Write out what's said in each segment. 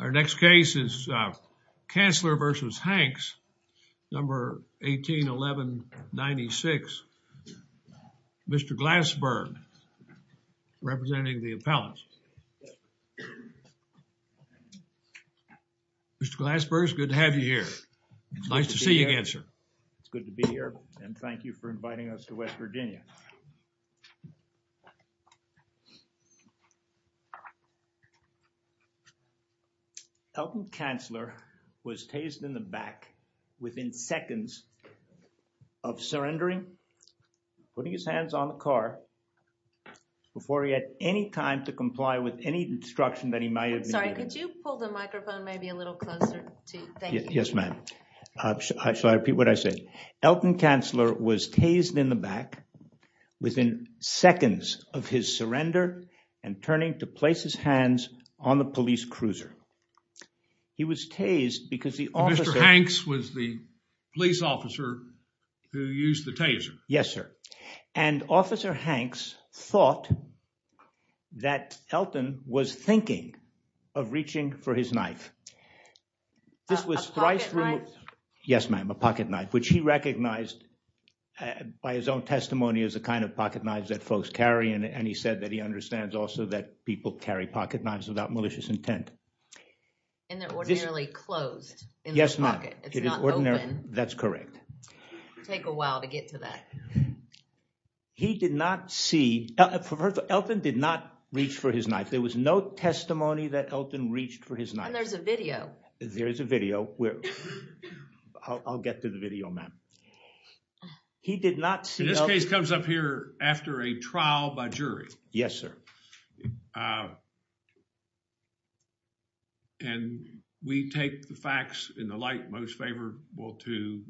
Our next case is Cansler v. Hanks, number 181196, Mr. Glassberg, representing the appellants. Mr. Glassberg, it's good to have you here. It's nice to see you again, sir. It's good to be here, and thank you for inviting us to West Virginia. Elton Cansler was tased in the back within seconds of surrendering, putting his hands on the car, before he had any time to comply with any instruction that he might have been given. Sorry, could you pull the microphone maybe a little closer? Thank you. Yes, ma'am. Shall I repeat what I said? Elton Cansler was tased in the back within seconds of his surrender and turning to place his hands on the police cruiser. He was tased because the officer... Mr. Hanks was the police officer who used the taser. Yes, sir. And Officer Hanks thought that Elton was thinking of reaching for his knife. A pocket knife? Yes, ma'am, a pocket knife, which he recognized by his own testimony as a kind of pocket knife that folks carry. And he said that he understands also that people carry pocket knives without malicious intent. And they're ordinarily closed in the pocket. Yes, ma'am. That's correct. Take a while to get to that. He did not see... Elton did not reach for his knife. There was no testimony that Elton reached for his knife. And there's a video. There is a video. I'll get to the video, ma'am. He did not see... This case comes up here after a trial by jury. Yes, sir. And we take the facts in the light most favorable to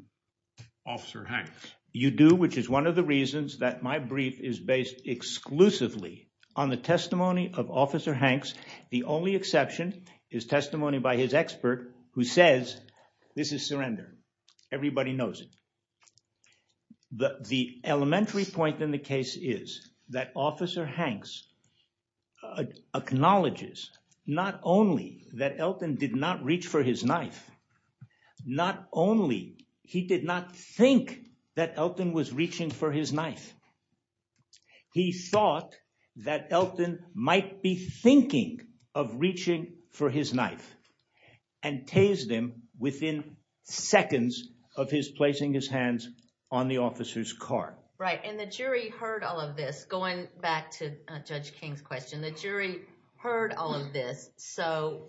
Officer Hanks. You do, which is one of the reasons that my brief is based exclusively on the testimony of Officer Hanks. The only exception is testimony by his expert who says this is surrender. Everybody knows it. The elementary point in the case is that Officer Hanks acknowledges not only that Elton did not reach for his knife, not only he did not think that Elton was reaching for his knife. He thought that Elton might be thinking of reaching for his knife and tased him within seconds of his placing his hands on the officer's car. Right. And the jury heard all of this. Going back to Judge King's question, the jury heard all of this. So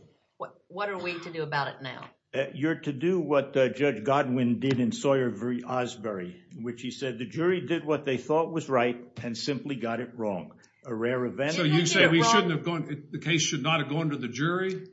what are we to do about it now? You're to do what Judge Godwin did in Sawyer v. Osbury, which he said the jury did what they thought was right and simply got it wrong. A rare event. So you say the case should not have gone to the jury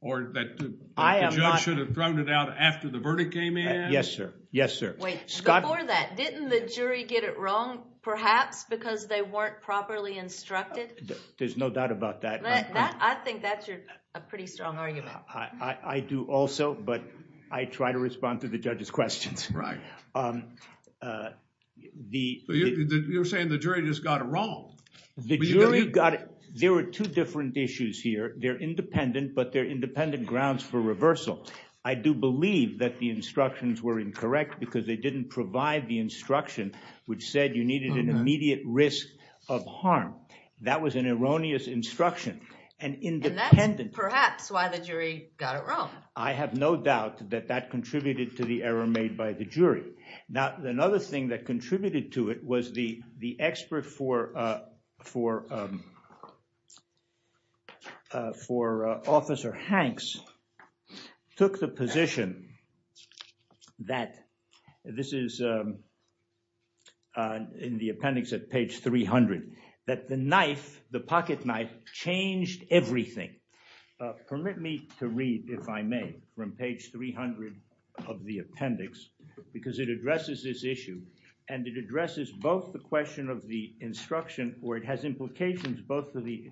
or that the judge should have thrown it out after the verdict came in? Yes, sir. Yes, sir. Wait, before that, didn't the jury get it wrong perhaps because they weren't properly instructed? There's no doubt about that. I think that's a pretty strong argument. I do also, but I try to respond to the judge's questions. Right. You're saying the jury just got it wrong. There were two different issues here. They're independent, but they're independent grounds for reversal. I do believe that the instructions were incorrect because they didn't provide the instruction, which said you needed an immediate risk of harm. That was an erroneous instruction. And that's perhaps why the jury got it wrong. I have no doubt that that contributed to the error made by the jury. Now, another thing that contributed to it was the expert for Officer Hanks took the position that this is in the appendix at page 300, that the knife, the pocket knife, changed everything. Permit me to read, if I may, from page 300 of the appendix because it addresses this issue and it addresses both the question of the instruction or it has implications both for the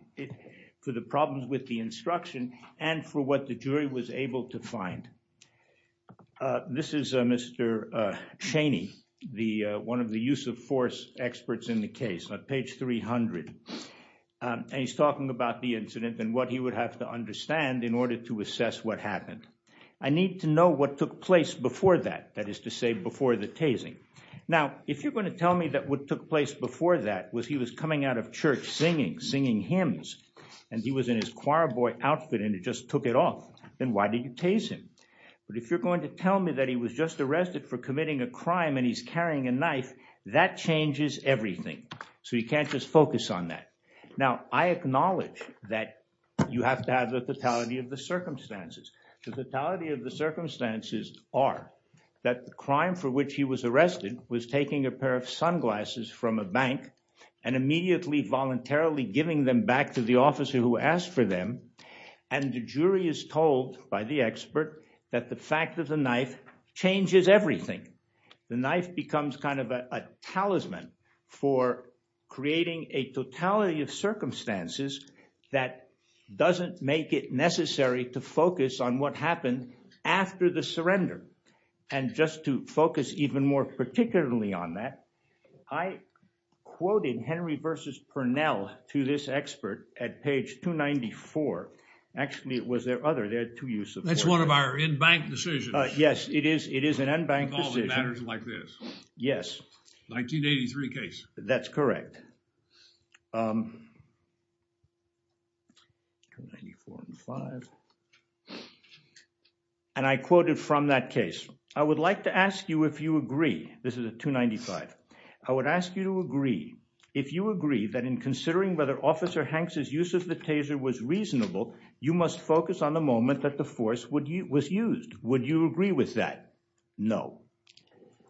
problems with the instruction and for what the jury was able to find. This is Mr. Chaney, one of the use of force experts in the case on page 300. And he's talking about the incident and what he would have to understand in order to assess what happened. I need to know what took place before that, that is to say before the tasing. Now, if you're going to tell me that what took place before that was he was coming out of church singing, singing hymns, and he was in his choir boy outfit and he just took it off, then why did you tase him? But if you're going to tell me that he was just arrested for committing a crime and he's carrying a knife, that changes everything. So you can't just focus on that. Now, I acknowledge that you have to have the totality of the circumstances. The totality of the circumstances are that the crime for which he was arrested was taking a pair of sunglasses from a bank and immediately voluntarily giving them back to the officer who asked for them. And the jury is told by the expert that the fact of the knife changes everything. The knife becomes kind of a talisman for creating a totality of circumstances that doesn't make it necessary to focus on what happened after the surrender. And just to focus even more particularly on that, I quoted Henry versus Purnell to this expert at page 294. Actually, it was their other, their two use of words. That's one of our in-bank decisions. Yes, it is. It is an in-bank decision. Involving matters like this. Yes. 1983 case. That's correct. And I quoted from that case. I would like to ask you if you agree. This is a 295. I would ask you to agree. If you agree that in considering whether Officer Hanks' use of the taser was reasonable, you must focus on the moment that the force was used. Would you agree with that? No.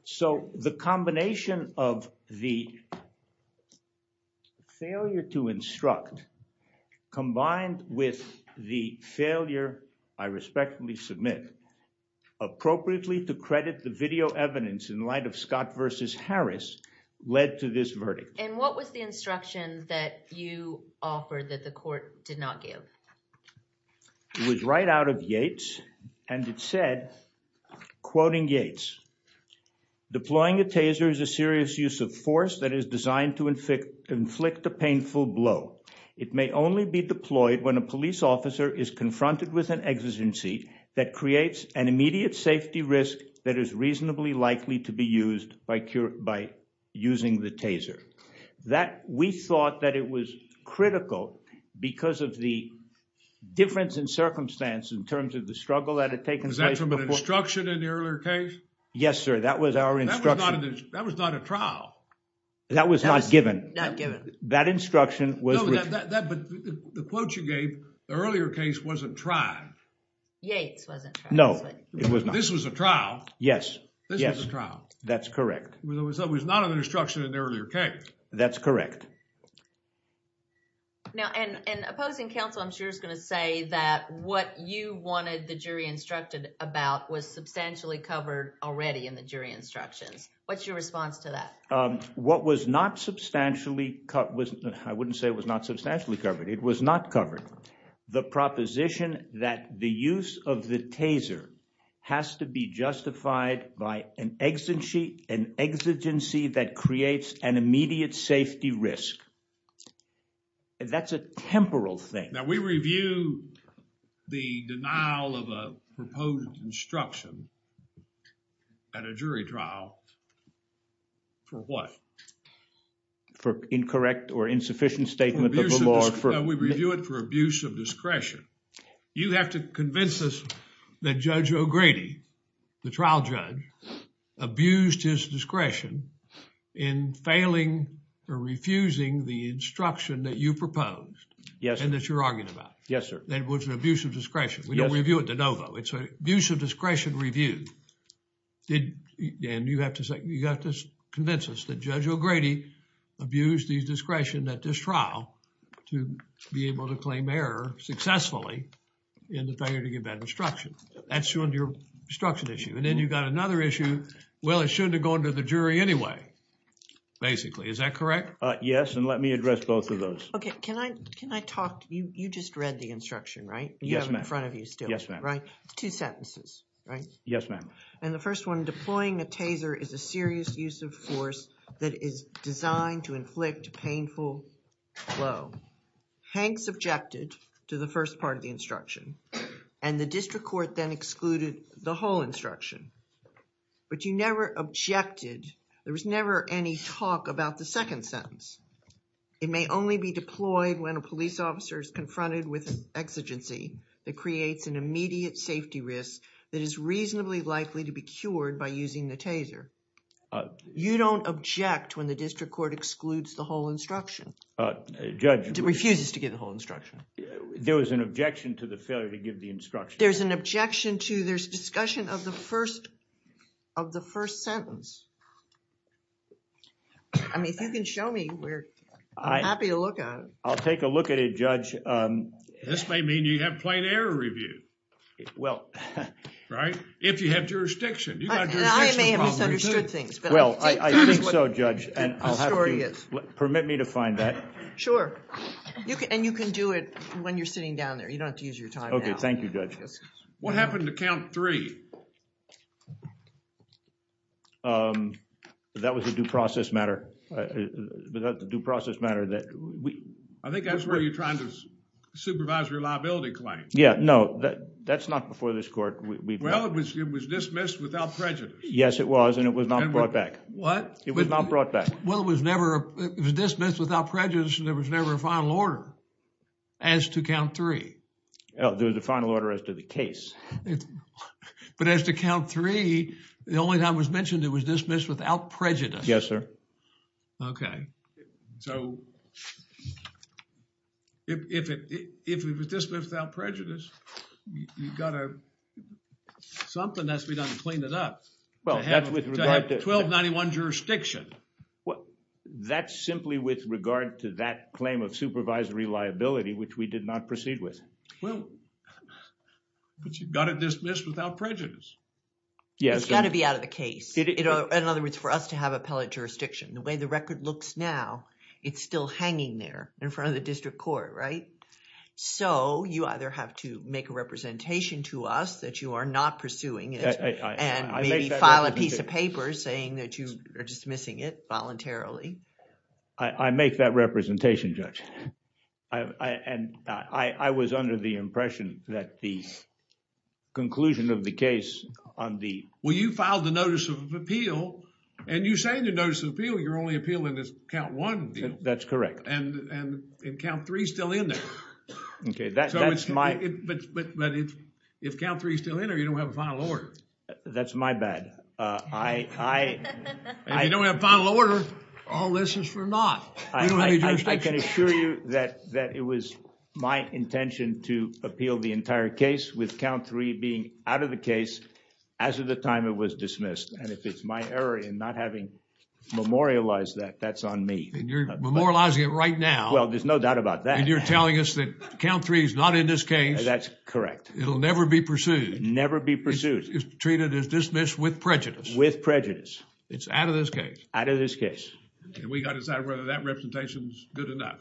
So the combination of the failure to instruct combined with the failure, I respectfully submit, appropriately to credit the video evidence in light of Scott versus Harris led to this verdict. And what was the instruction that you offered that the court did not give? It was right out of Yates. And it said, quoting Yates, deploying a taser is a serious use of force that is designed to inflict a painful blow. It may only be deployed when a police officer is confronted with an exigency that creates an immediate safety risk that is reasonably likely to be used by using the taser. That we thought that it was critical because of the difference in circumstance in terms of the struggle that had taken place. Was that from an instruction in the earlier case? Yes, sir. That was our instruction. That was not a trial. That was not given. Not given. That instruction was. But the quote you gave, the earlier case wasn't tried. Yates wasn't tried. No, it was not. This was a trial. Yes. This was a trial. That's correct. It was not an instruction in the earlier case. That's correct. Now, in opposing counsel, I'm sure is going to say that what you wanted the jury instructed about was substantially covered already in the jury instructions. What's your response to that? What was not substantially cut was I wouldn't say it was not substantially covered. It was not covered. The proposition that the use of the taser has to be justified by an exigency that creates an immediate safety risk. That's a temporal thing. Now, we review the denial of a proposed instruction at a jury trial for what? For incorrect or insufficient statement of the law. We review it for abuse of discretion. You have to convince us that Judge O'Grady, the trial judge, abused his discretion in failing or refusing the instruction that you proposed. Yes, sir. And that you're arguing about. Yes, sir. That was an abuse of discretion. We don't review it de novo. It's an abuse of discretion review. And you have to convince us that Judge O'Grady abused his discretion at this trial to be able to claim error successfully in the failure to give that instruction. That's your instruction issue. And then you got another issue. Well, it shouldn't have gone to the jury anyway, basically. Is that correct? Yes, and let me address both of those. Okay. Can I talk? You just read the instruction, right? You have it in front of you still. Yes, ma'am. Two sentences, right? Yes, ma'am. And the first one, deploying a taser is a serious use of force that is designed to inflict painful blow. Hanks objected to the first part of the instruction and the district court then excluded the whole instruction. But you never objected. There was never any talk about the second sentence. It may only be deployed when a police officer is confronted with an exigency that creates an immediate safety risk that is reasonably likely to be cured by using the taser. You don't object when the district court excludes the whole instruction. Judge... Refuses to give the whole instruction. There was an objection to the failure to give the instruction. There's an objection to... there's discussion of the first... of the first sentence. I mean, if you can show me, we're happy to look at it. I'll take a look at it, Judge. This may mean you have plain error review. Well... Right? If you have jurisdiction. I may have misunderstood things, but... Well, I think so, Judge, and I'll have to... The story is... Permit me to find that. Sure. And you can do it when you're sitting down there. You don't have to use your time. Okay, thank you, Judge. What happened to count three? That was a due process matter. That was a due process matter that... I think that's where you're trying to supervise reliability claims. Yeah, no, that's not before this court. Well, it was dismissed without prejudice. Yes, it was, and it was not brought back. What? It was not brought back. Well, it was never... It was dismissed without prejudice, and there was never a final order as to count three. There was a final order as to the case. But as to count three, the only time it was mentioned it was dismissed without prejudice. Yes, sir. Okay. So, if it was dismissed without prejudice, you've got to... Something has to be done to clean it up. Well, that's with regard to... To have 1291 jurisdiction. Well, that's simply with regard to that claim of supervisory reliability, which we did not proceed with. Well, but you've got to dismiss without prejudice. Yes, sir. It's got to be out of the case. In other words, for us to have appellate jurisdiction. The way the record looks now, it's still hanging there in front of the district court, right? So, you either have to make a representation to us that you are not pursuing it... I make that representation.... and maybe file a piece of paper saying that you are dismissing it voluntarily. I make that representation, Judge. I was under the impression that the conclusion of the case on the... Well, you filed the Notice of Appeal and you say in the Notice of Appeal you're only appealing this Count 1 deal. That's correct. And Count 3 is still in there. Okay. So, it's my... But if Count 3 is still in there, you don't have a final order. That's my bad. I... If you don't have a final order, all this is for naught. I can assure you that it was my intention to appeal the entire case with Count 3 being out of the case as of the time it was dismissed. And if it's my error in not having memorialized that, that's on me. And you're memorializing it right now. Well, there's no doubt about that. And you're telling us that Count 3 is not in this case. That's correct. It'll never be pursued. Never be pursued. It's treated as dismissed with prejudice. With prejudice. It's out of this case. Out of this case. And we got to decide whether that representation is good or not.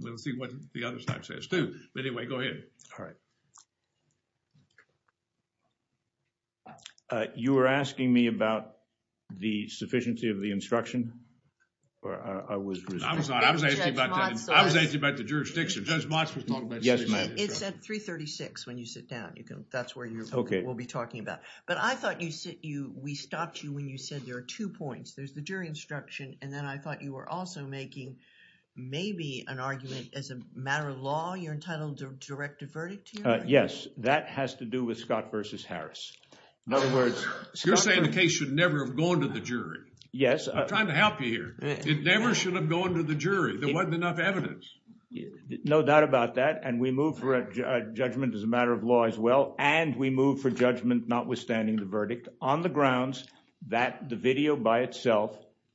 We'll see what the other side says too. But anyway, go ahead. All right. Uh, you were asking me about the sufficiency of the instruction or I was... I was not. I was asking about... Judge Motz was... I was asking about the jurisdiction. Judge Motz was talking about... Yes, ma'am. It's at 336 when you sit down. You can... That's where you're... Okay. We'll be talking about. But I thought you sit... We stopped you when you said there are two points. There's the jury instruction and then I thought you were also making maybe an argument as a matter of law. You're entitled to direct a verdict here? Yes. That has to do with Scott versus Harris. In other words... You're saying the case should never have gone to the jury. Yes. I'm trying to help you here. It never should have gone to the jury. There wasn't enough evidence. No doubt about that. And we move for a judgment as a matter of law as well. And we move for judgment notwithstanding the verdict on the grounds that the video by itself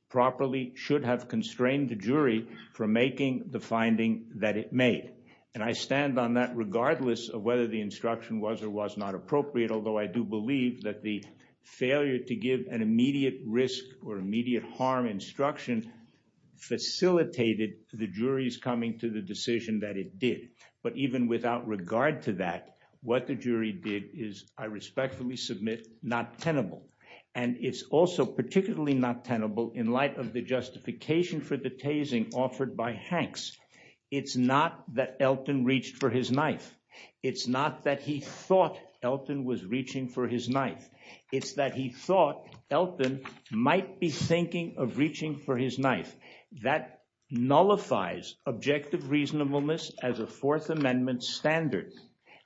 properly should have constrained the jury from making the finding that it made. And I stand on that regardless of whether the instruction was or was not appropriate, although I do believe that the failure to give an immediate risk or immediate harm instruction facilitated the jury's coming to the decision that it did. But even without regard to that, what the jury did is, I respectfully submit, not tenable. And it's also particularly not tenable in light of the justification for the tasing offered by Hanks. It's not that Elton reached for his knife. It's not that he thought Elton was reaching for his knife. It's that he thought Elton might be thinking of reaching for his knife. That nullifies objective reasonableness as a Fourth Amendment standard.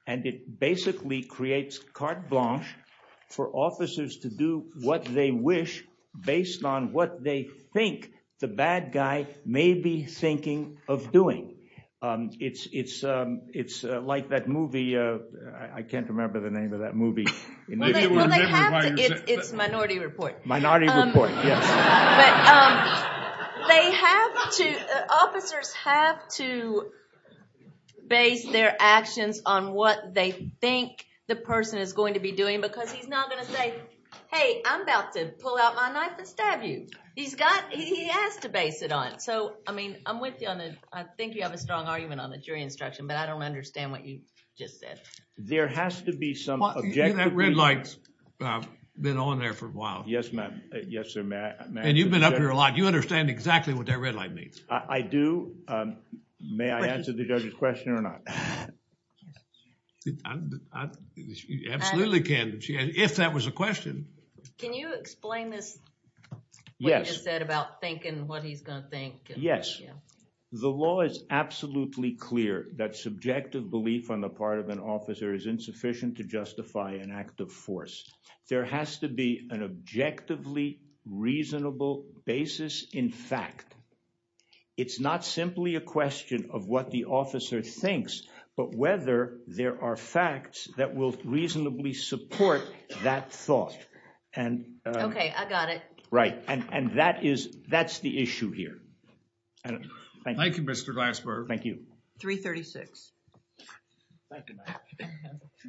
And it basically creates carte blanche for officers to do what they wish based on what they think the bad guy may be thinking of doing. It's like that movie. I can't remember the name of that movie. It's Minority Report. Minority Report, yes. But they have to, officers have to base their actions on what they think the person is going to be doing because he's not going to say, hey, I'm about to pull out my knife and stab you. He has to base it on it. So, I mean, I'm with you on that. I think you have a strong argument on the jury instruction, but I don't understand what you just said. There has to be some objective reasonableness. You see that red light? I've been on there for a while. Yes, sir. And you've been up here a lot. You understand exactly what that red light means. I do. May I answer the judge's question or not? You absolutely can if that was a question. Can you explain this? Yes. What you just said about thinking what he's going to think? Yes. The law is absolutely clear that subjective belief on the part of an officer is insufficient to justify an act of force. There has to be an objectively reasonable basis in fact. It's not simply a question of what the officer thinks, but whether there are facts that will reasonably support that thought. Okay. I got it. Right. And that's the issue here. Thank you, Mr. Glassberg. Thank you. 336.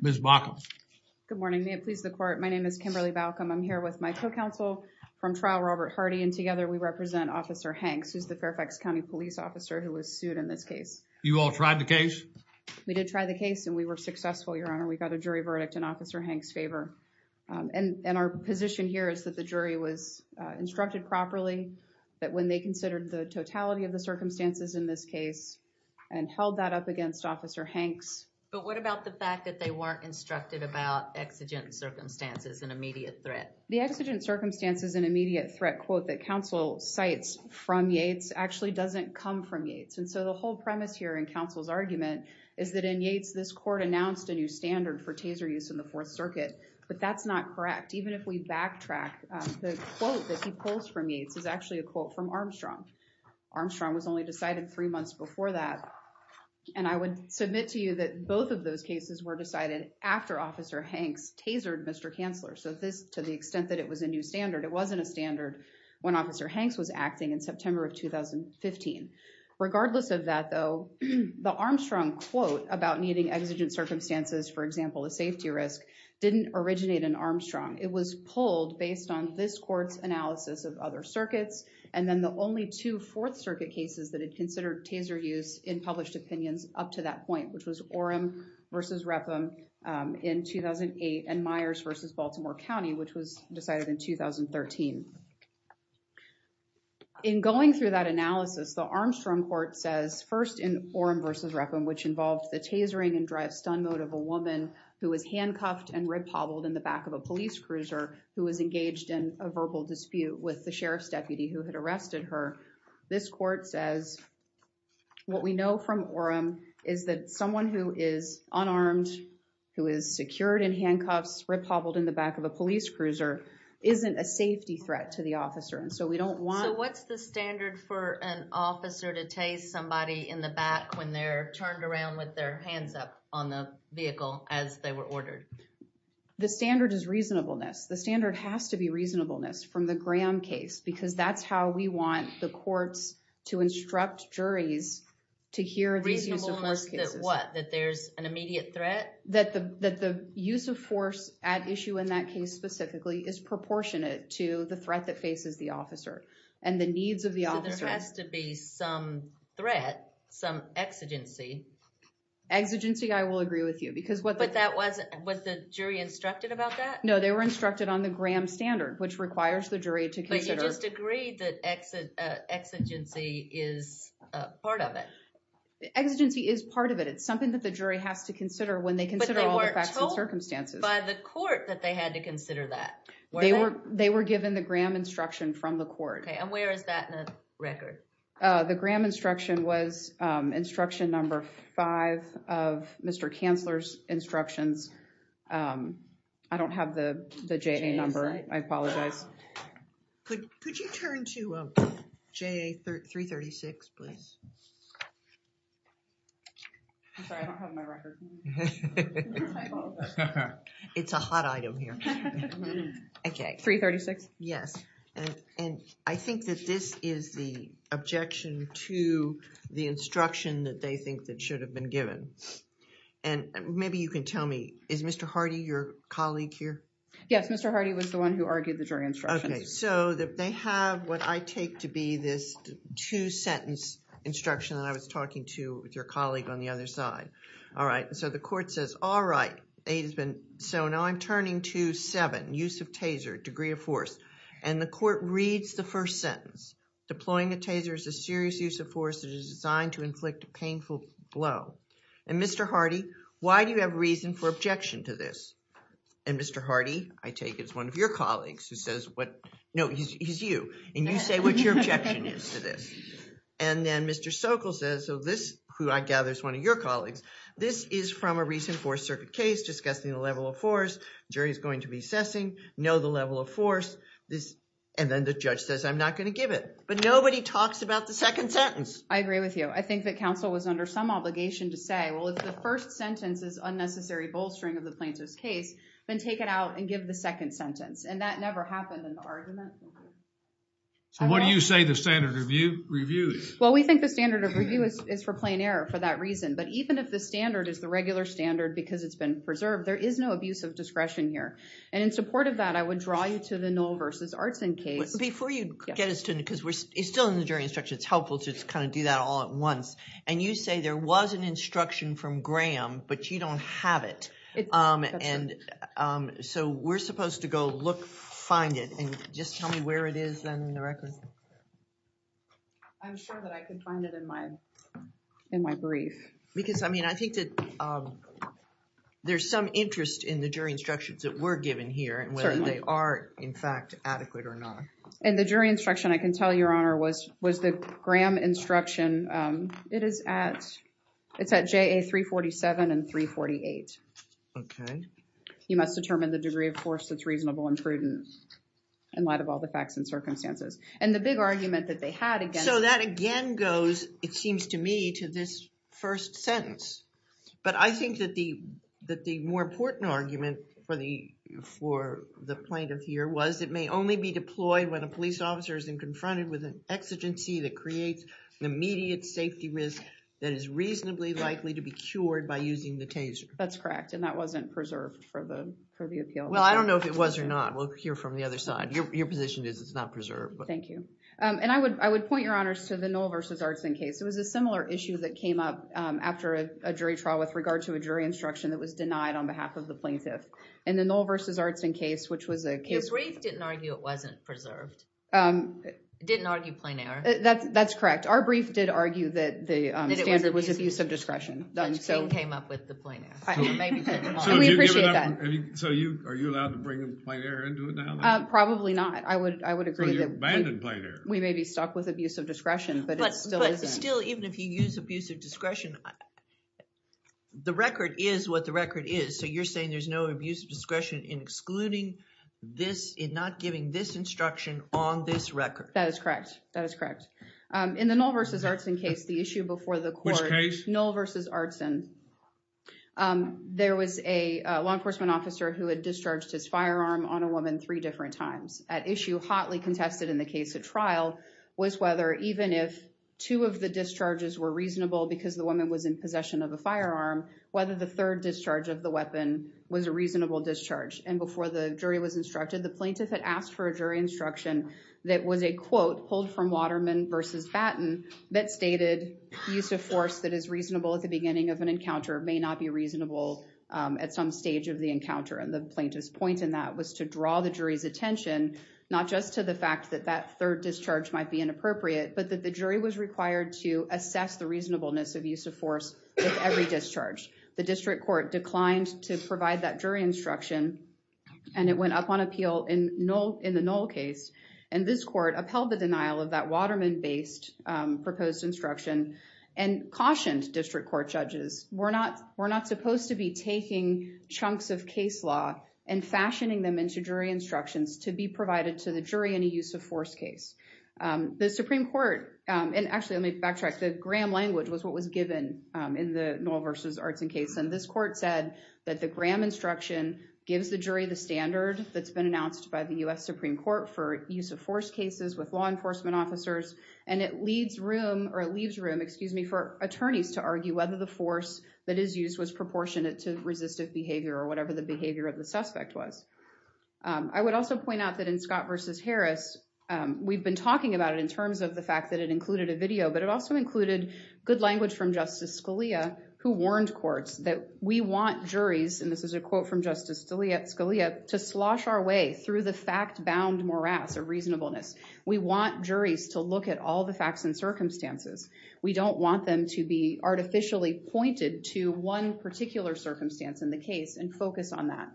Ms. Baca. Good morning. May it please the court. My name is Kimberly Baca. I'm here with my co-counsel from trial, Robert Hardy, and together we represent Officer Hanks, who's the Fairfax County police officer who was sued in this case. You all tried the case? We did try the case and we were successful, Your Honor. We got a jury verdict in Officer Hanks' favor. And our position here is that the jury was instructed properly, that when they considered the totality of the circumstances in this case and held that up against Officer Hanks. But what about the fact that they weren't instructed about exigent circumstances and immediate threat? The exigent circumstances and immediate threat quote that counsel cites from Yates actually doesn't come from Yates. And so the whole premise here in counsel's argument is that in Yates, this court announced a new standard for taser use in the Fourth Circuit, but that's not correct. Even if we backtrack, the quote that he pulls from Yates is actually a quote from Armstrong. Armstrong was only decided three months before that. And I would submit to you that both of those cases were decided after Officer Hanks tasered Mr. Kanzler. So this, to the extent that it was a new standard, it wasn't a standard when Officer Hanks was acting in September of 2015. Regardless of that though, the Armstrong quote about needing exigent circumstances, for example, a safety risk didn't originate in Armstrong. It was pulled based on this court's analysis of other circuits and then the only two Fourth Circuit cases that had considered taser use in published opinions up to that point, which was Orem versus Repham in 2008, and Myers versus Baltimore County, which was decided in 2013. In going through that analysis, the Armstrong court says, first in Orem versus Repham, which involved the tasering and drive-stun mode of a woman who was handcuffed and rib hobbled in the back of a police cruiser who was engaged in a verbal dispute with the sheriff's deputy who had arrested her. This court says what we know from Orem is that someone who is unarmed, who is secured in handcuffs, rib hobbled in the back of a police cruiser, isn't a safety threat to the officer. And so we don't want- So what's the standard for an officer to tase somebody in the back when they're turned around with their hands up on the vehicle as they were ordered? The standard is reasonableness. The standard has to be reasonableness from the Graham case because that's how we want the courts to instruct juries to hear these use of force cases. Reasonableness that what? That there's an immediate threat? That the use of force at issue in that case specifically is proportionate to the threat that faces the officer and the needs of the officer. So there has to be some threat, some exigency. Exigency, I will agree with you because what the- But that wasn't what the jury instructed about that? No, they were instructed on the Graham standard, which requires the jury to consider- But you just agreed that exigency is part of it? Exigency is part of it. It's something that the jury has to consider when they consider all the facts and circumstances. But they weren't told by the court that they had to consider that? They were given the Graham instruction from the court. Okay, and where is that in the record? The Graham instruction was instruction number five of Mr. Chancellor's instructions. I don't have the JA number. I apologize. Could you turn to JA 336, please? I'm sorry, I don't have my record. It's a hot item here. Okay. 336? Yes. And I think that this is the objection to the instruction that they think that should have been given. And maybe you can tell me, is Mr. Hardy your colleague here? Yes, Mr. Hardy was the one who argued the jury instructions. Okay, so they have what I take to be this two-sentence instruction that I was talking to with your colleague on the other side. All right. So the court says, all right, so now I'm turning to seven, use of taser, degree of force. And the court reads the first sentence. Deploying a taser is a serious use of force that is designed to inflict a painful blow. And Mr. Hardy, why do you have reason for objection to this? And Mr. Hardy, I take as one of your colleagues, who says what... No, he's you. And you say what your objection is to this. And then Mr. Sokol says, who I gather is one of your colleagues, this is from a recent Fourth Circuit case discussing the level of force. Jury is going to be assessing. Know the level of force. And then the judge says, I'm not going to give it. But nobody talks about the second sentence. I agree with you. I think that counsel was under some obligation to say, well, if the first sentence is unnecessary bolstering of the plaintiff's case, then take it out and give the second sentence. And that never happened in the argument. So what do you say the standard of review is? Well, we think the standard of review is for plain error for that reason. But even if the standard is the regular standard because it's been preserved, there is no abuse of discretion here. And in support of that, I would draw you to the Noll v. Artson case. Before you get us to it, because it's still in the jury instruction. It's helpful to just kind of do that all at once. And you say there was an instruction from Graham, but you don't have it. And so we're supposed to go look, find it, and just tell me where it is in the record. I'm sure that I can find it in my brief. Because, I mean, I think that there's some interest in the jury instructions that were given here and whether they are, in fact, adequate or not. And the jury instruction, I can tell you, Your Honor, was the Graham instruction. It is at, it's at JA 347 and 348. Okay. You must determine the degree of force that's reasonable and prudent in light of all the facts and circumstances. And the big argument that they had again. So that again goes, it seems to me, to this first sentence. But I think that the more important argument for the plaintiff here was it may only be deployed when a police officer is confronted with an exigency that creates an immediate safety risk that is reasonably likely to be cured by using the taser. That's correct. And that wasn't preserved for the appeal. Well, I don't know if it was or not. We'll hear from the other side. Your position is it's not preserved. Thank you. And I would point, Your Honors, to the Knoll v. Artson case. It was a similar issue that came up after a jury trial with regard to a jury instruction that was denied on behalf of the plaintiff. And the Knoll v. Artson case, which was a case... Your brief didn't argue it wasn't preserved. It didn't argue plain error. That's correct. Our brief did argue that the standard was abuse of discretion. Which came up with the plain error. We appreciate that. So are you allowed to bring a plain error into it now? Probably not. I would agree that... So you abandoned plain error. We may be stuck with abuse of discretion, but it still isn't. But still, even if you use abuse of discretion, the record is what the record is. So you're saying there's no abuse of discretion in excluding this, in not giving this instruction on this record. That is correct. That is correct. In the Knoll v. Artson case, the issue before the court... Which case? Knoll v. Artson. There was a law enforcement officer who had discharged his firearm on a woman three different times. At issue, hotly contested in the case at trial, was whether even if two of the discharges were reasonable because the woman was in possession of a firearm, whether the third discharge of the weapon was a reasonable discharge. And before the jury was instructed, the plaintiff had asked for a jury instruction that was a quote pulled from Waterman v. Batten that stated, use of force that is reasonable at the beginning of an encounter may not be reasonable at some stage of the encounter. And the plaintiff's point in that was to draw the jury's attention, not just to the fact that that third discharge might be inappropriate, but that the jury was required to assess the reasonableness of use of force with every discharge. The district court declined to provide that jury instruction, and it went up on appeal in the Knoll case. And this court upheld the denial of that Waterman-based proposed instruction and cautioned district court judges, we're not supposed to be taking chunks of case law and fashioning them into jury instructions to be provided to the jury in a use of force case. The Supreme Court, and actually let me backtrack, the Graham language was what was given in the Knoll v. Arts and Case, and this court said that the Graham instruction gives the jury the standard that's been announced by the U.S. Supreme Court for use of force cases with law enforcement officers, and it leaves room for attorneys to argue whether the force that is used was proportionate to resistive behavior or whatever the behavior of the suspect was. I would also point out that in Scott v. Harris, we've been talking about it in terms of the fact that it included a video, but it also included good language from Justice Scalia who warned courts that we want juries, and this is a quote from Justice Scalia, to slosh our way through the fact-bound morass of reasonableness. We want juries to look at all the facts and circumstances. We don't want them to be artificially pointed to one particular circumstance in the case and focus on that,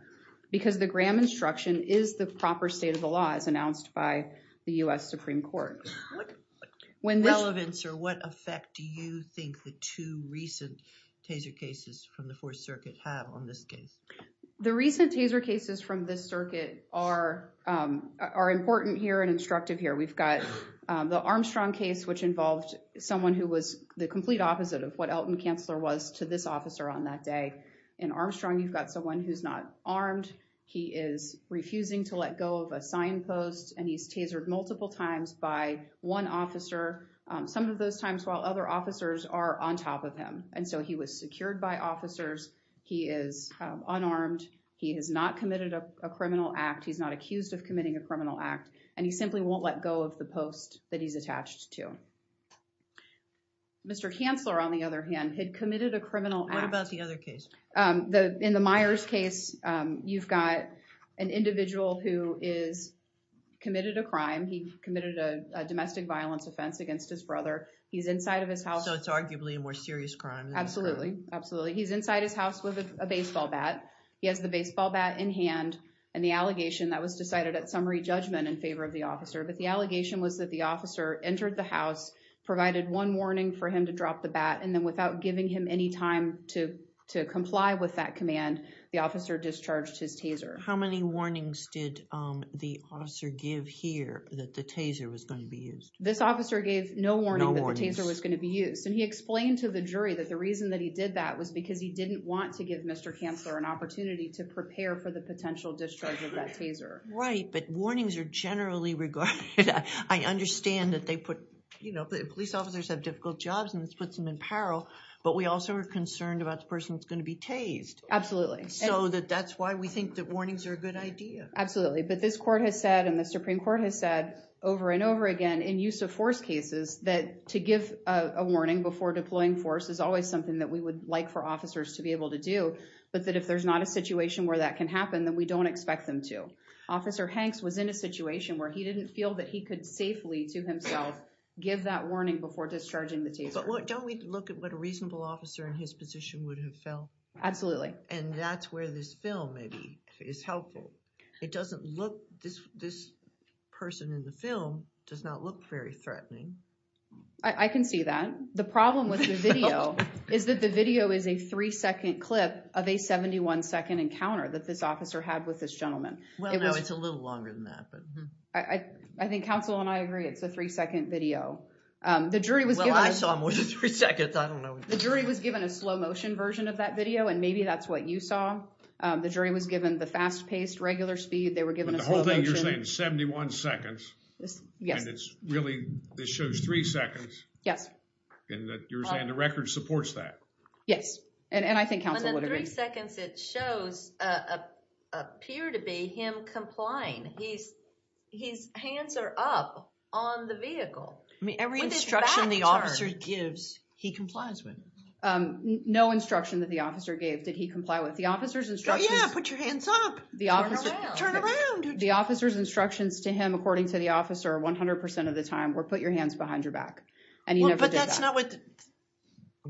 because the Graham instruction is the proper state of the law as announced by the U.S. Supreme Court. Relevance or what effect do you think the two recent taser cases from the Fourth Circuit have on this case? The recent taser cases from this circuit are important here and instructive here. We've got the Armstrong case, which involved someone who was the complete opposite of what Elton Kansler was to this officer on that day. In Armstrong, you've got someone who's not armed. He is refusing to let go of a signpost, and he's tasered multiple times by one officer, some of those times while other officers are on top of him, and so he was secured by officers. He is unarmed. He has not committed a criminal act. He's not accused of committing a criminal act, and he simply won't let go of the post that he's attached to. Mr. Kansler, on the other hand, had committed a criminal act. What about the other case? In the Myers case, you've got an individual who is committed a crime. He committed a domestic violence offense against his brother. He's inside of his house. So it's arguably a more serious crime. Absolutely. Absolutely. He's inside his house with a baseball bat. He has the baseball bat in hand, and the allegation that was decided at summary judgment in favor of the officer, but the allegation was that the officer entered the house, provided one warning for him to drop the bat, and then without giving him any time to comply with that command, the officer discharged his taser. How many warnings did the officer give here that the taser was going to be used? This officer gave no warning that the taser was going to be used, and he explained to the jury that the reason that he did that was because he didn't want to give Mr. Kansler an opportunity to prepare for the potential discharge of that taser. Right, but warnings are generally regarded. I understand that police officers have difficult jobs, and this puts them in peril, but we also are concerned about the person that's going to be tased. Absolutely. So that's why we think that warnings are a good idea. Absolutely, but this court has said and the Supreme Court has said over and over again in use of force cases that to give a warning before deploying force is always something that we would like for officers to be able to do, but that if there's not a situation where that can happen, then we don't expect them to. Officer Hanks was in a situation where he didn't feel that he could safely to himself give that warning before discharging the taser. But don't we look at what a reasonable officer in his position would have felt? Absolutely. And that's where this film maybe is helpful. It doesn't look, this person in the film does not look very threatening. I can see that. The problem with the video is that the video is a three-second clip of a 71-second encounter that this officer had with this gentleman. Well, no, it's a little longer than that. I think counsel and I agree it's a three-second video. Well, I saw more than three seconds. I don't know. The jury was given a slow-motion version of that video, and maybe that's what you saw. The jury was given the fast-paced regular speed. They were given a slow-motion. But the whole thing you're saying is 71 seconds. Yes. And it's really, this shows three seconds. Yes. And you're saying the record supports that. Yes, and I think counsel would agree. The three seconds it shows appear to be him complying. His hands are up on the vehicle. I mean, every instruction the officer gives, he complies with. No instruction that the officer gave did he comply with. The officer's instructions- Oh, yeah, put your hands up. Turn around. Turn around. The officer's instructions to him, according to the officer, 100% of the time were put your hands behind your back. And he never did that. But that's not what-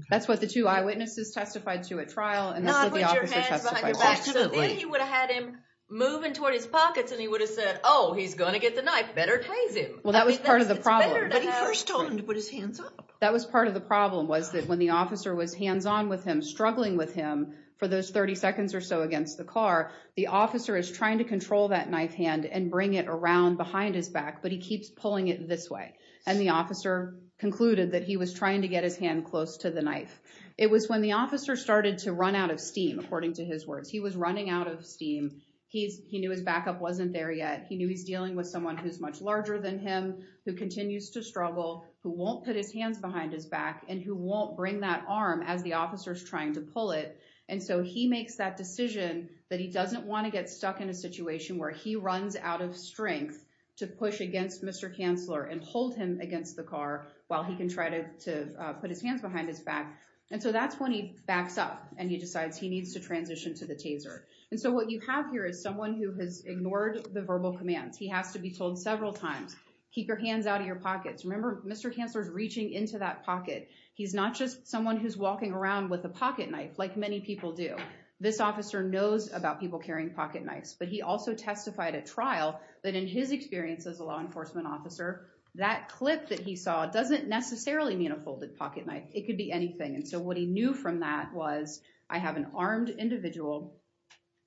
That's what the two eyewitnesses testified to at trial, and that's what the officer testified to. So then you would have had him moving toward his pockets, and he would have said, oh, he's going to get the knife. Better praise him. Well, that was part of the problem. But he first told him to put his hands up. That was part of the problem, was that when the officer was hands-on with him, struggling with him for those 30 seconds or so against the car, the officer is trying to control that knife hand and bring it around behind his back, but he keeps pulling it this way. And the officer concluded that he was trying to get his hand close to the knife. It was when the officer started to run out of steam, according to his words. He was running out of steam. He knew his backup wasn't there yet. He knew he's dealing with someone who's much larger than him, who continues to struggle, who won't put his hands behind his back, and who won't bring that arm as the officer's trying to pull it. And so he makes that decision that he doesn't want to get stuck in a situation where he runs out of strength to push against Mr. Kanzler and hold him against the car while he can try to put his hands behind his back. And so that's when he backs up and he decides he needs to transition to the taser. And so what you have here is someone who has ignored the verbal commands. He has to be told several times, keep your hands out of your pockets. Remember, Mr. Kanzler is reaching into that pocket. He's not just someone who's walking around with a pocketknife, like many people do. This officer knows about people carrying pocketknives. But he also testified at trial that in his experience as a law enforcement officer, that clip that he saw doesn't necessarily mean a folded pocketknife. It could be anything. And so what he knew from that was, I have an armed individual.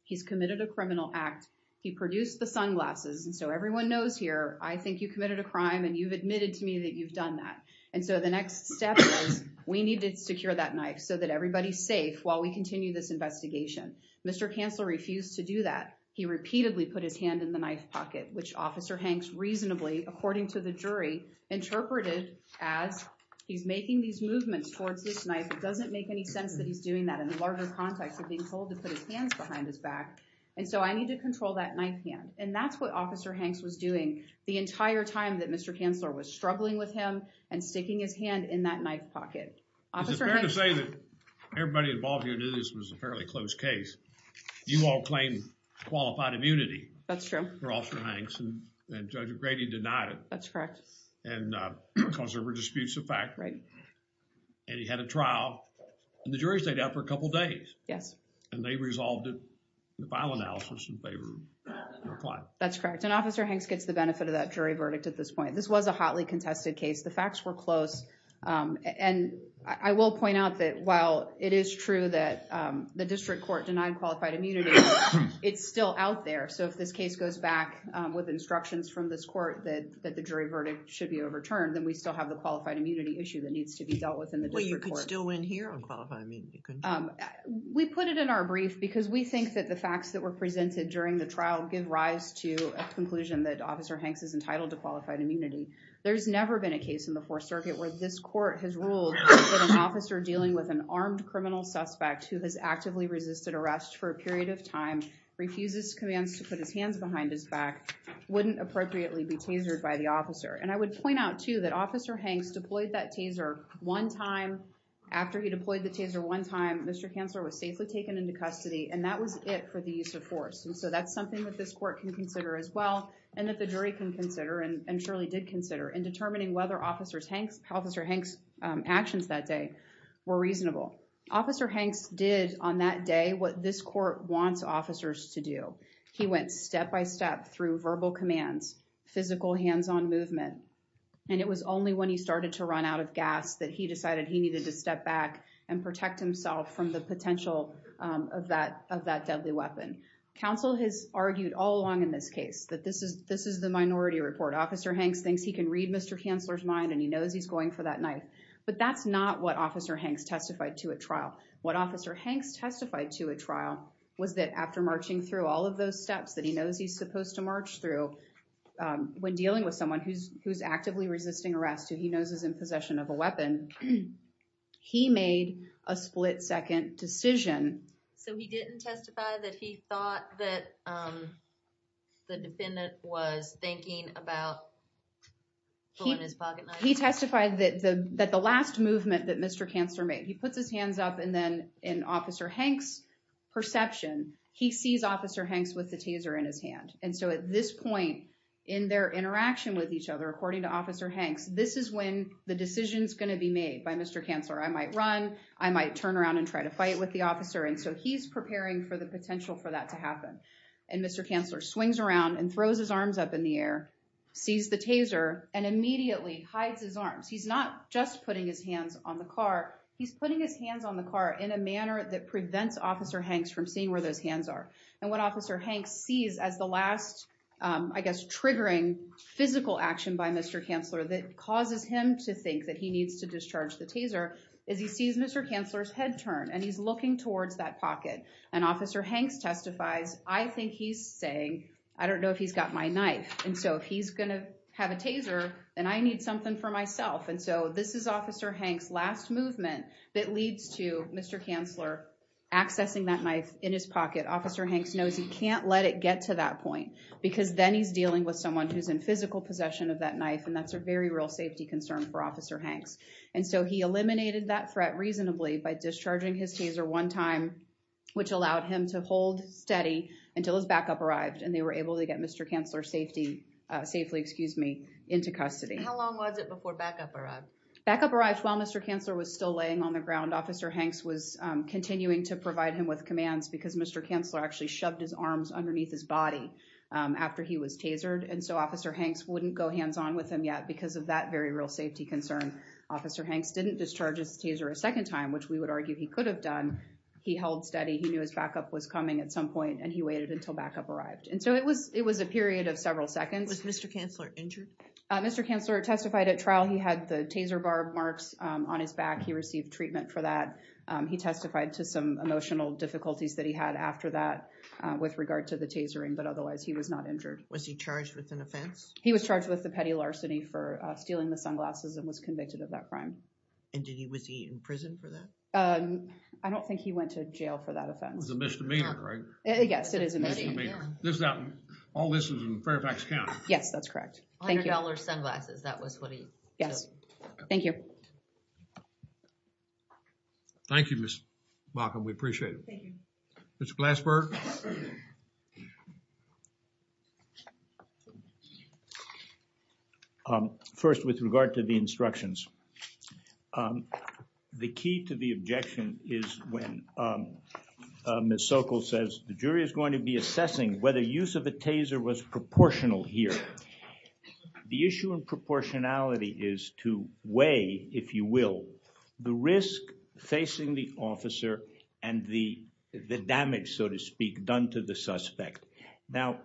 He's committed a criminal act. He produced the sunglasses. And so everyone knows here, I think you committed a crime and you've admitted to me that you've done that. And so the next step is we need to secure that knife so that everybody's safe while we continue this investigation. Mr. Kanzler refused to do that. He repeatedly put his hand in the knife pocket, which Officer Hanks reasonably, according to the jury, interpreted as he's making these movements towards this knife. It doesn't make any sense that he's doing that in the larger context of being told to put his hands behind his back. And so I need to control that knife hand. And that's what Officer Hanks was doing the entire time that Mr. Kanzler was struggling with him and sticking his hand in that knife pocket. Is it fair to say that everybody involved here knew this was a fairly close case? You all claim qualified immunity. That's true. For Officer Hanks and Judge Grady denied it. That's correct. And because there were disputes of fact. Right. And he had a trial and the jury stayed out for a couple of days. Yes. And they resolved it in the final analysis in favor of the reply. That's correct. And Officer Hanks gets the benefit of that jury verdict at this point. This was a hotly contested case. The facts were close. And I will point out that while it is true that the district court denied qualified immunity, it's still out there. So if this case goes back with instructions from this court that the jury verdict should be overturned, then we still have the qualified immunity issue that needs to be dealt with in the district court. Well, you could still win here on qualified immunity, couldn't you? We put it in our brief because we think that the facts that were presented during the trial give rise to a conclusion that Officer Hanks is entitled to qualified immunity. There's never been a case in the Fourth Circuit where this court has ruled that an officer dealing with an armed criminal suspect who has actively resisted arrest for a period of time, refuses commands to put his hands behind his back, wouldn't appropriately be tasered by the officer. And I would point out, too, that Officer Hanks deployed that taser one time. After he deployed the taser one time, Mr. Kanzler was safely taken into custody, and that was it for the use of force. And so that's something that this court can consider as well and that the jury can consider and surely did consider in determining whether Officer Hanks' actions that day were reasonable. Officer Hanks did on that day what this court wants officers to do. He went step-by-step through verbal commands, physical hands-on movement, and it was only when he started to run out of gas that he decided he needed to step back and protect himself from the potential of that deadly weapon. Counsel has argued all along in this case that this is the minority report. Officer Hanks thinks he can read Mr. Kanzler's mind and he knows he's going for that knife, but that's not what Officer Hanks testified to at trial. What Officer Hanks testified to at trial was that after marching through all of those steps that he knows he's supposed to march through, when dealing with someone who's actively resisting arrest, who he knows is in possession of a weapon, he made a split-second decision. So he didn't testify that he thought that the defendant was thinking about pulling his pocketknife? He testified that the last movement that Mr. Kanzler made, he puts his hands up and then in Officer Hanks' perception, he sees Officer Hanks with the taser in his hand. And so at this point in their interaction with each other, according to Officer Hanks, this is when the decision is going to be made by Mr. Kanzler. I might run. I might turn around and try to fight with the officer. And so he's preparing for the potential for that to happen. And Mr. Kanzler swings around and throws his arms up in the air, sees the taser, and immediately hides his arms. He's not just putting his hands on the car. He's putting his hands on the car in a manner that prevents Officer Hanks from seeing where those hands are. And what Officer Hanks sees as the last, I guess, triggering physical action by Mr. Kanzler that causes him to think that he needs to discharge the taser, is he sees Mr. Kanzler's head turn and he's looking towards that pocket. And Officer Hanks testifies, I think he's saying, I don't know if he's got my knife. And so if he's going to have a taser, then I need something for myself. And so this is Officer Hanks' last movement that leads to Mr. Kanzler accessing that knife in his pocket. Officer Hanks knows he can't let it get to that point because then he's dealing with someone who's in physical possession of that knife. And that's a very real safety concern for Officer Hanks. And so he eliminated that threat reasonably by discharging his taser one time, which allowed him to hold steady until his backup arrived and they were able to get Mr. Kanzler safely into custody. How long was it before backup arrived? Backup arrived while Mr. Kanzler was still laying on the ground. Officer Hanks was continuing to provide him with commands because Mr. Kanzler actually shoved his arms underneath his body after he was tasered. And so Officer Hanks wouldn't go hands on with him yet because of that very real safety concern. Officer Hanks didn't discharge his taser a second time, which we would argue he could have done. He held steady. He knew his backup was coming at some point and he waited until backup arrived. And so it was it was a period of several seconds. Was Mr. Kanzler injured? Mr. Kanzler testified at trial. He had the taser bar marks on his back. He received treatment for that. He testified to some emotional difficulties that he had after that with regard to the tasering. But otherwise, he was not injured. Was he charged with an offense? He was charged with the petty larceny for stealing the sunglasses and was convicted of that crime. And was he in prison for that? I don't think he went to jail for that offense. It was a misdemeanor, right? Yes, it is a misdemeanor. All this is in Fairfax County. Yes, that's correct. $100 sunglasses. That was what he took. Yes. Thank you. Thank you, Ms. Baucom. We appreciate it. Thank you. Mr. Glassberg. First, with regard to the instructions. The key to the objection is when Ms. Sokol says, the jury is going to be assessing whether use of a taser was proportional here. The issue in proportionality is to weigh, if you will, the risk facing the officer and the damage, so to speak, done to the suspect. Now,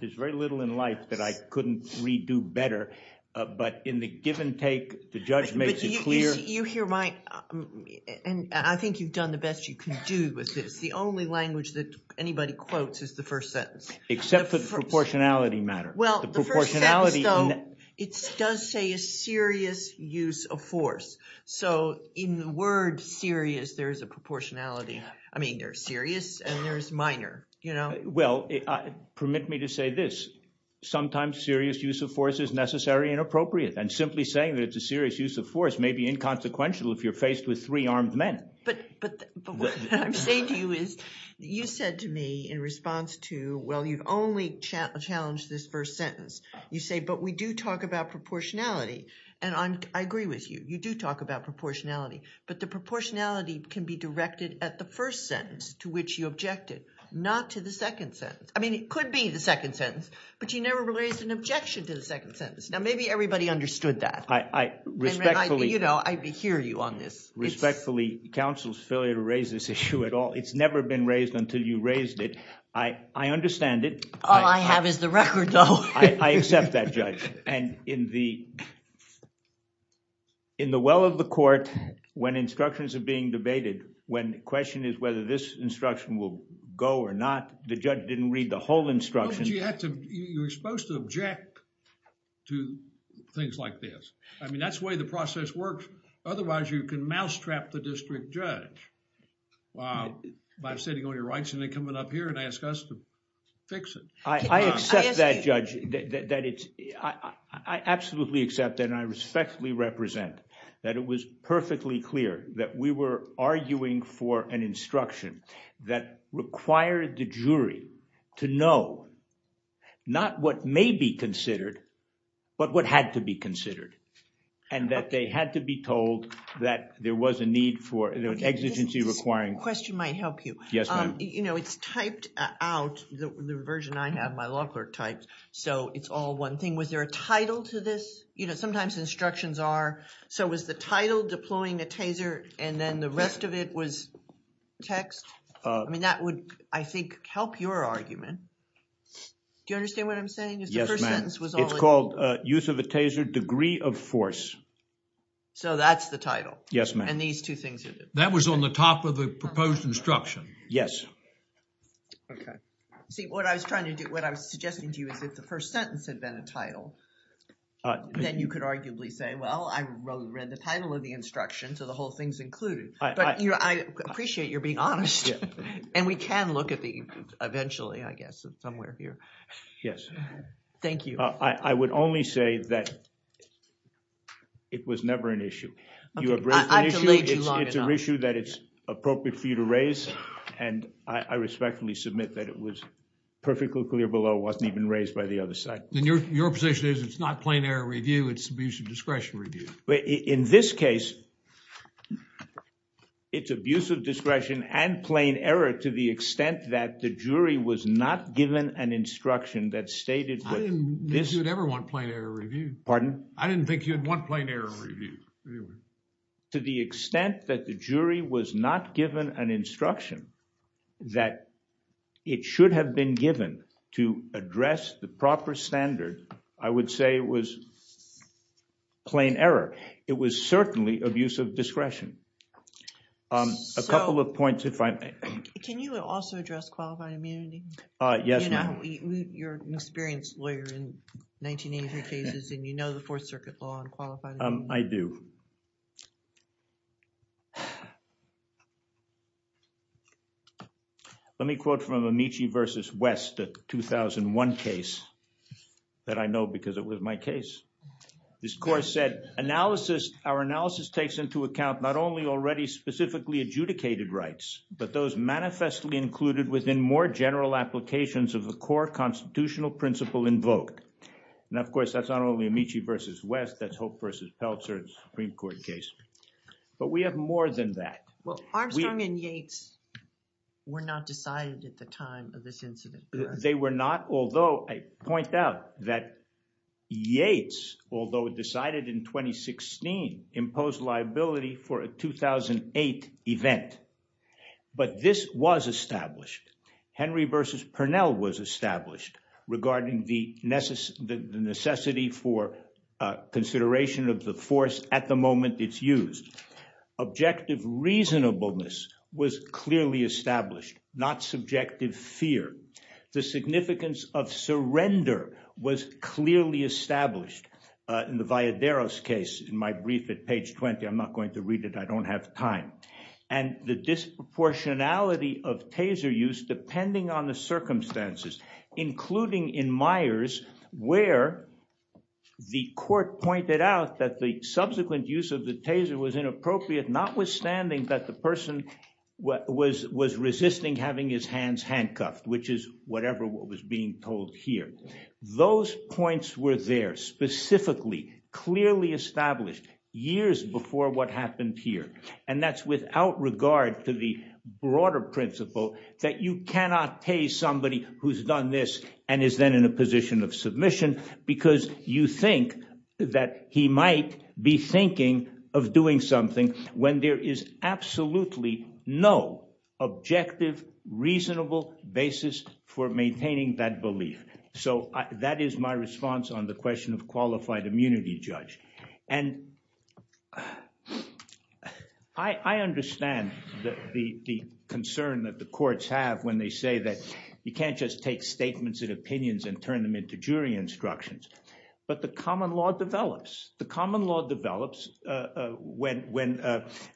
there's very little in life that I couldn't redo better. But in the give and take, the judge makes it clear. You hear my – and I think you've done the best you can do with this. The only language that anybody quotes is the first sentence. Except for the proportionality matter. Well, the first sentence, though, it does say a serious use of force. So in the word serious, there is a proportionality. I mean, there's serious and there's minor. Well, permit me to say this. Sometimes serious use of force is necessary and appropriate. And simply saying that it's a serious use of force may be inconsequential if you're faced with three armed men. But what I'm saying to you is you said to me in response to, well, you've only challenged this first sentence. You say, but we do talk about proportionality. And I agree with you. You do talk about proportionality. But the proportionality can be directed at the first sentence to which you objected, not to the second sentence. I mean, it could be the second sentence, but you never raised an objection to the second sentence. Now, maybe everybody understood that. I hear you on this. Respectfully, counsel's failure to raise this issue at all. It's never been raised until you raised it. I understand it. All I have is the record, though. I accept that, Judge. And in the well of the court, when instructions are being debated, when the question is whether this instruction will go or not, the judge didn't read the whole instruction. You're supposed to object to things like this. I mean, that's the way the process works. Otherwise, you can mousetrap the district judge by setting all your rights and then coming up here and ask us to fix it. I accept that, Judge. I absolutely accept that and I respectfully represent that it was perfectly clear that we were arguing for an instruction that required the jury to know not what may be considered, but what had to be considered, and that they had to be told that there was a need for an exigency requiring. This question might help you. Yes, ma'am. You know, it's typed out, the version I have, my law clerk typed, so it's all one thing. Was there a title to this? You know, sometimes instructions are. So was the title deploying a taser and then the rest of it was text? I mean, that would, I think, help your argument. Do you understand what I'm saying? Yes, ma'am. It's called use of a taser degree of force. So that's the title. Yes, ma'am. And these two things are different. That was on the top of the proposed instruction. Yes. Okay. See, what I was trying to do, what I was suggesting to you is if the first sentence had been a title, then you could arguably say, well, I read the title of the instruction, so the whole thing's included. But I appreciate your being honest. And we can look at the, eventually, I guess, somewhere here. Yes. Thank you. I would only say that it was never an issue. I've delayed you long enough. It's an issue that it's appropriate for you to raise, and I respectfully submit that it was perfectly clear below. It wasn't even raised by the other side. Then your position is it's not plain error review. It's abuse of discretion review. In this case, it's abuse of discretion and plain error to the extent that the jury was not given an instruction that stated that this... I didn't think you'd ever want plain error review. Pardon? I didn't think you'd want plain error review. To the extent that the jury was not given an instruction that it should have been given to address the proper standard, I would say it was plain error. It was certainly abuse of discretion. A couple of points, if I may. Can you also address qualified immunity? Yes, ma'am. You're an experienced lawyer in 1983 cases, and you know the Fourth Circuit law on qualified immunity. I do. Thank you. Let me quote from Amici v. West, a 2001 case that I know because it was my case. This court said, our analysis takes into account not only already specifically adjudicated rights, but those manifestly included within more general applications of a core constitutional principle invoked. Now, of course, that's not only Amici v. West. That's Hope v. Peltzer's Supreme Court case. But we have more than that. Armstrong and Yates were not decided at the time of this incident. They were not, although I point out that Yates, although decided in 2016, imposed liability for a 2008 event. But this was established. Henry v. Pernell was established regarding the necessity for consideration of the force at the moment it's used. Objective reasonableness was clearly established, not subjective fear. The significance of surrender was clearly established. In the Valladares case, in my brief at page 20, I'm not going to read it. I don't have time. And the disproportionality of taser use, depending on the circumstances, including in Myers, where the court pointed out that the subsequent use of the taser was inappropriate, notwithstanding that the person was resisting having his hands handcuffed, which is whatever was being told here. Those points were there specifically, clearly established years before what happened here. And that's without regard to the broader principle that you cannot tase somebody who's done this and is then in a position of submission because you think that he might be thinking of doing something when there is absolutely no objective, reasonable basis for maintaining that belief. So that is my response on the question of qualified immunity, Judge. And I understand the concern that the courts have when they say that you can't just take statements and opinions and turn them into jury instructions. But the common law develops. The common law develops when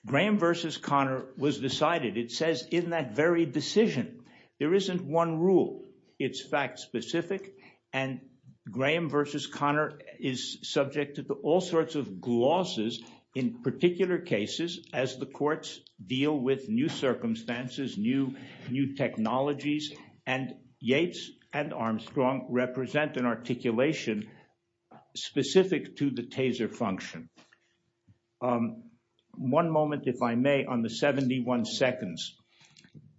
Graham versus Connor was decided. It says in that very decision there isn't one rule. It's fact specific. And Graham versus Connor is subject to all sorts of clauses in particular cases as the courts deal with new circumstances, new technologies. And Yates and Armstrong represent an articulation specific to the taser function. One moment, if I may, on the 71 seconds.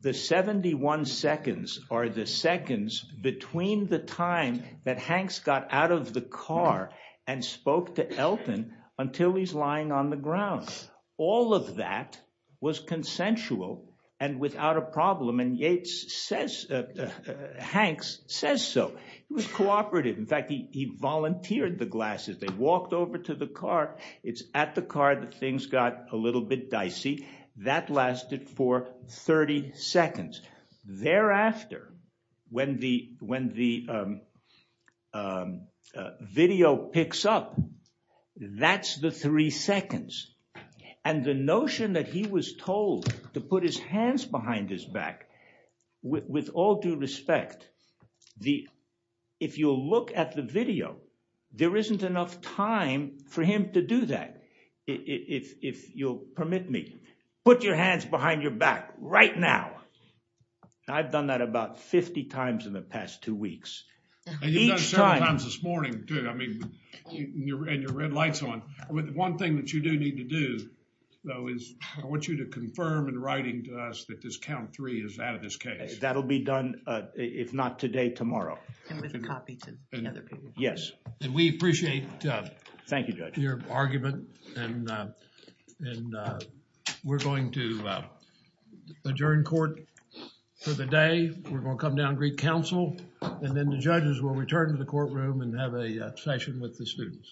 The 71 seconds are the seconds between the time that Hanks got out of the car and spoke to Elton until he's lying on the ground. All of that was consensual and without a problem. And Yates says – Hanks says so. He was cooperative. In fact, he volunteered the glasses. They walked over to the car. It's at the car that things got a little bit dicey. That lasted for 30 seconds. Thereafter, when the video picks up, that's the three seconds. And the notion that he was told to put his hands behind his back, with all due respect, if you look at the video, there isn't enough time for him to do that. If you'll permit me, put your hands behind your back right now. I've done that about 50 times in the past two weeks. Each time – And you've done it several times this morning too. I mean, and your red light's on. One thing that you do need to do though is I want you to confirm in writing to us that this count three is out of this case. That will be done if not today, tomorrow. And with a copy to the other people. Yes. And we appreciate your argument. And we're going to adjourn court for the day. We're going to come down and greet counsel. And then the judges will return to the courtroom and have a session with the students.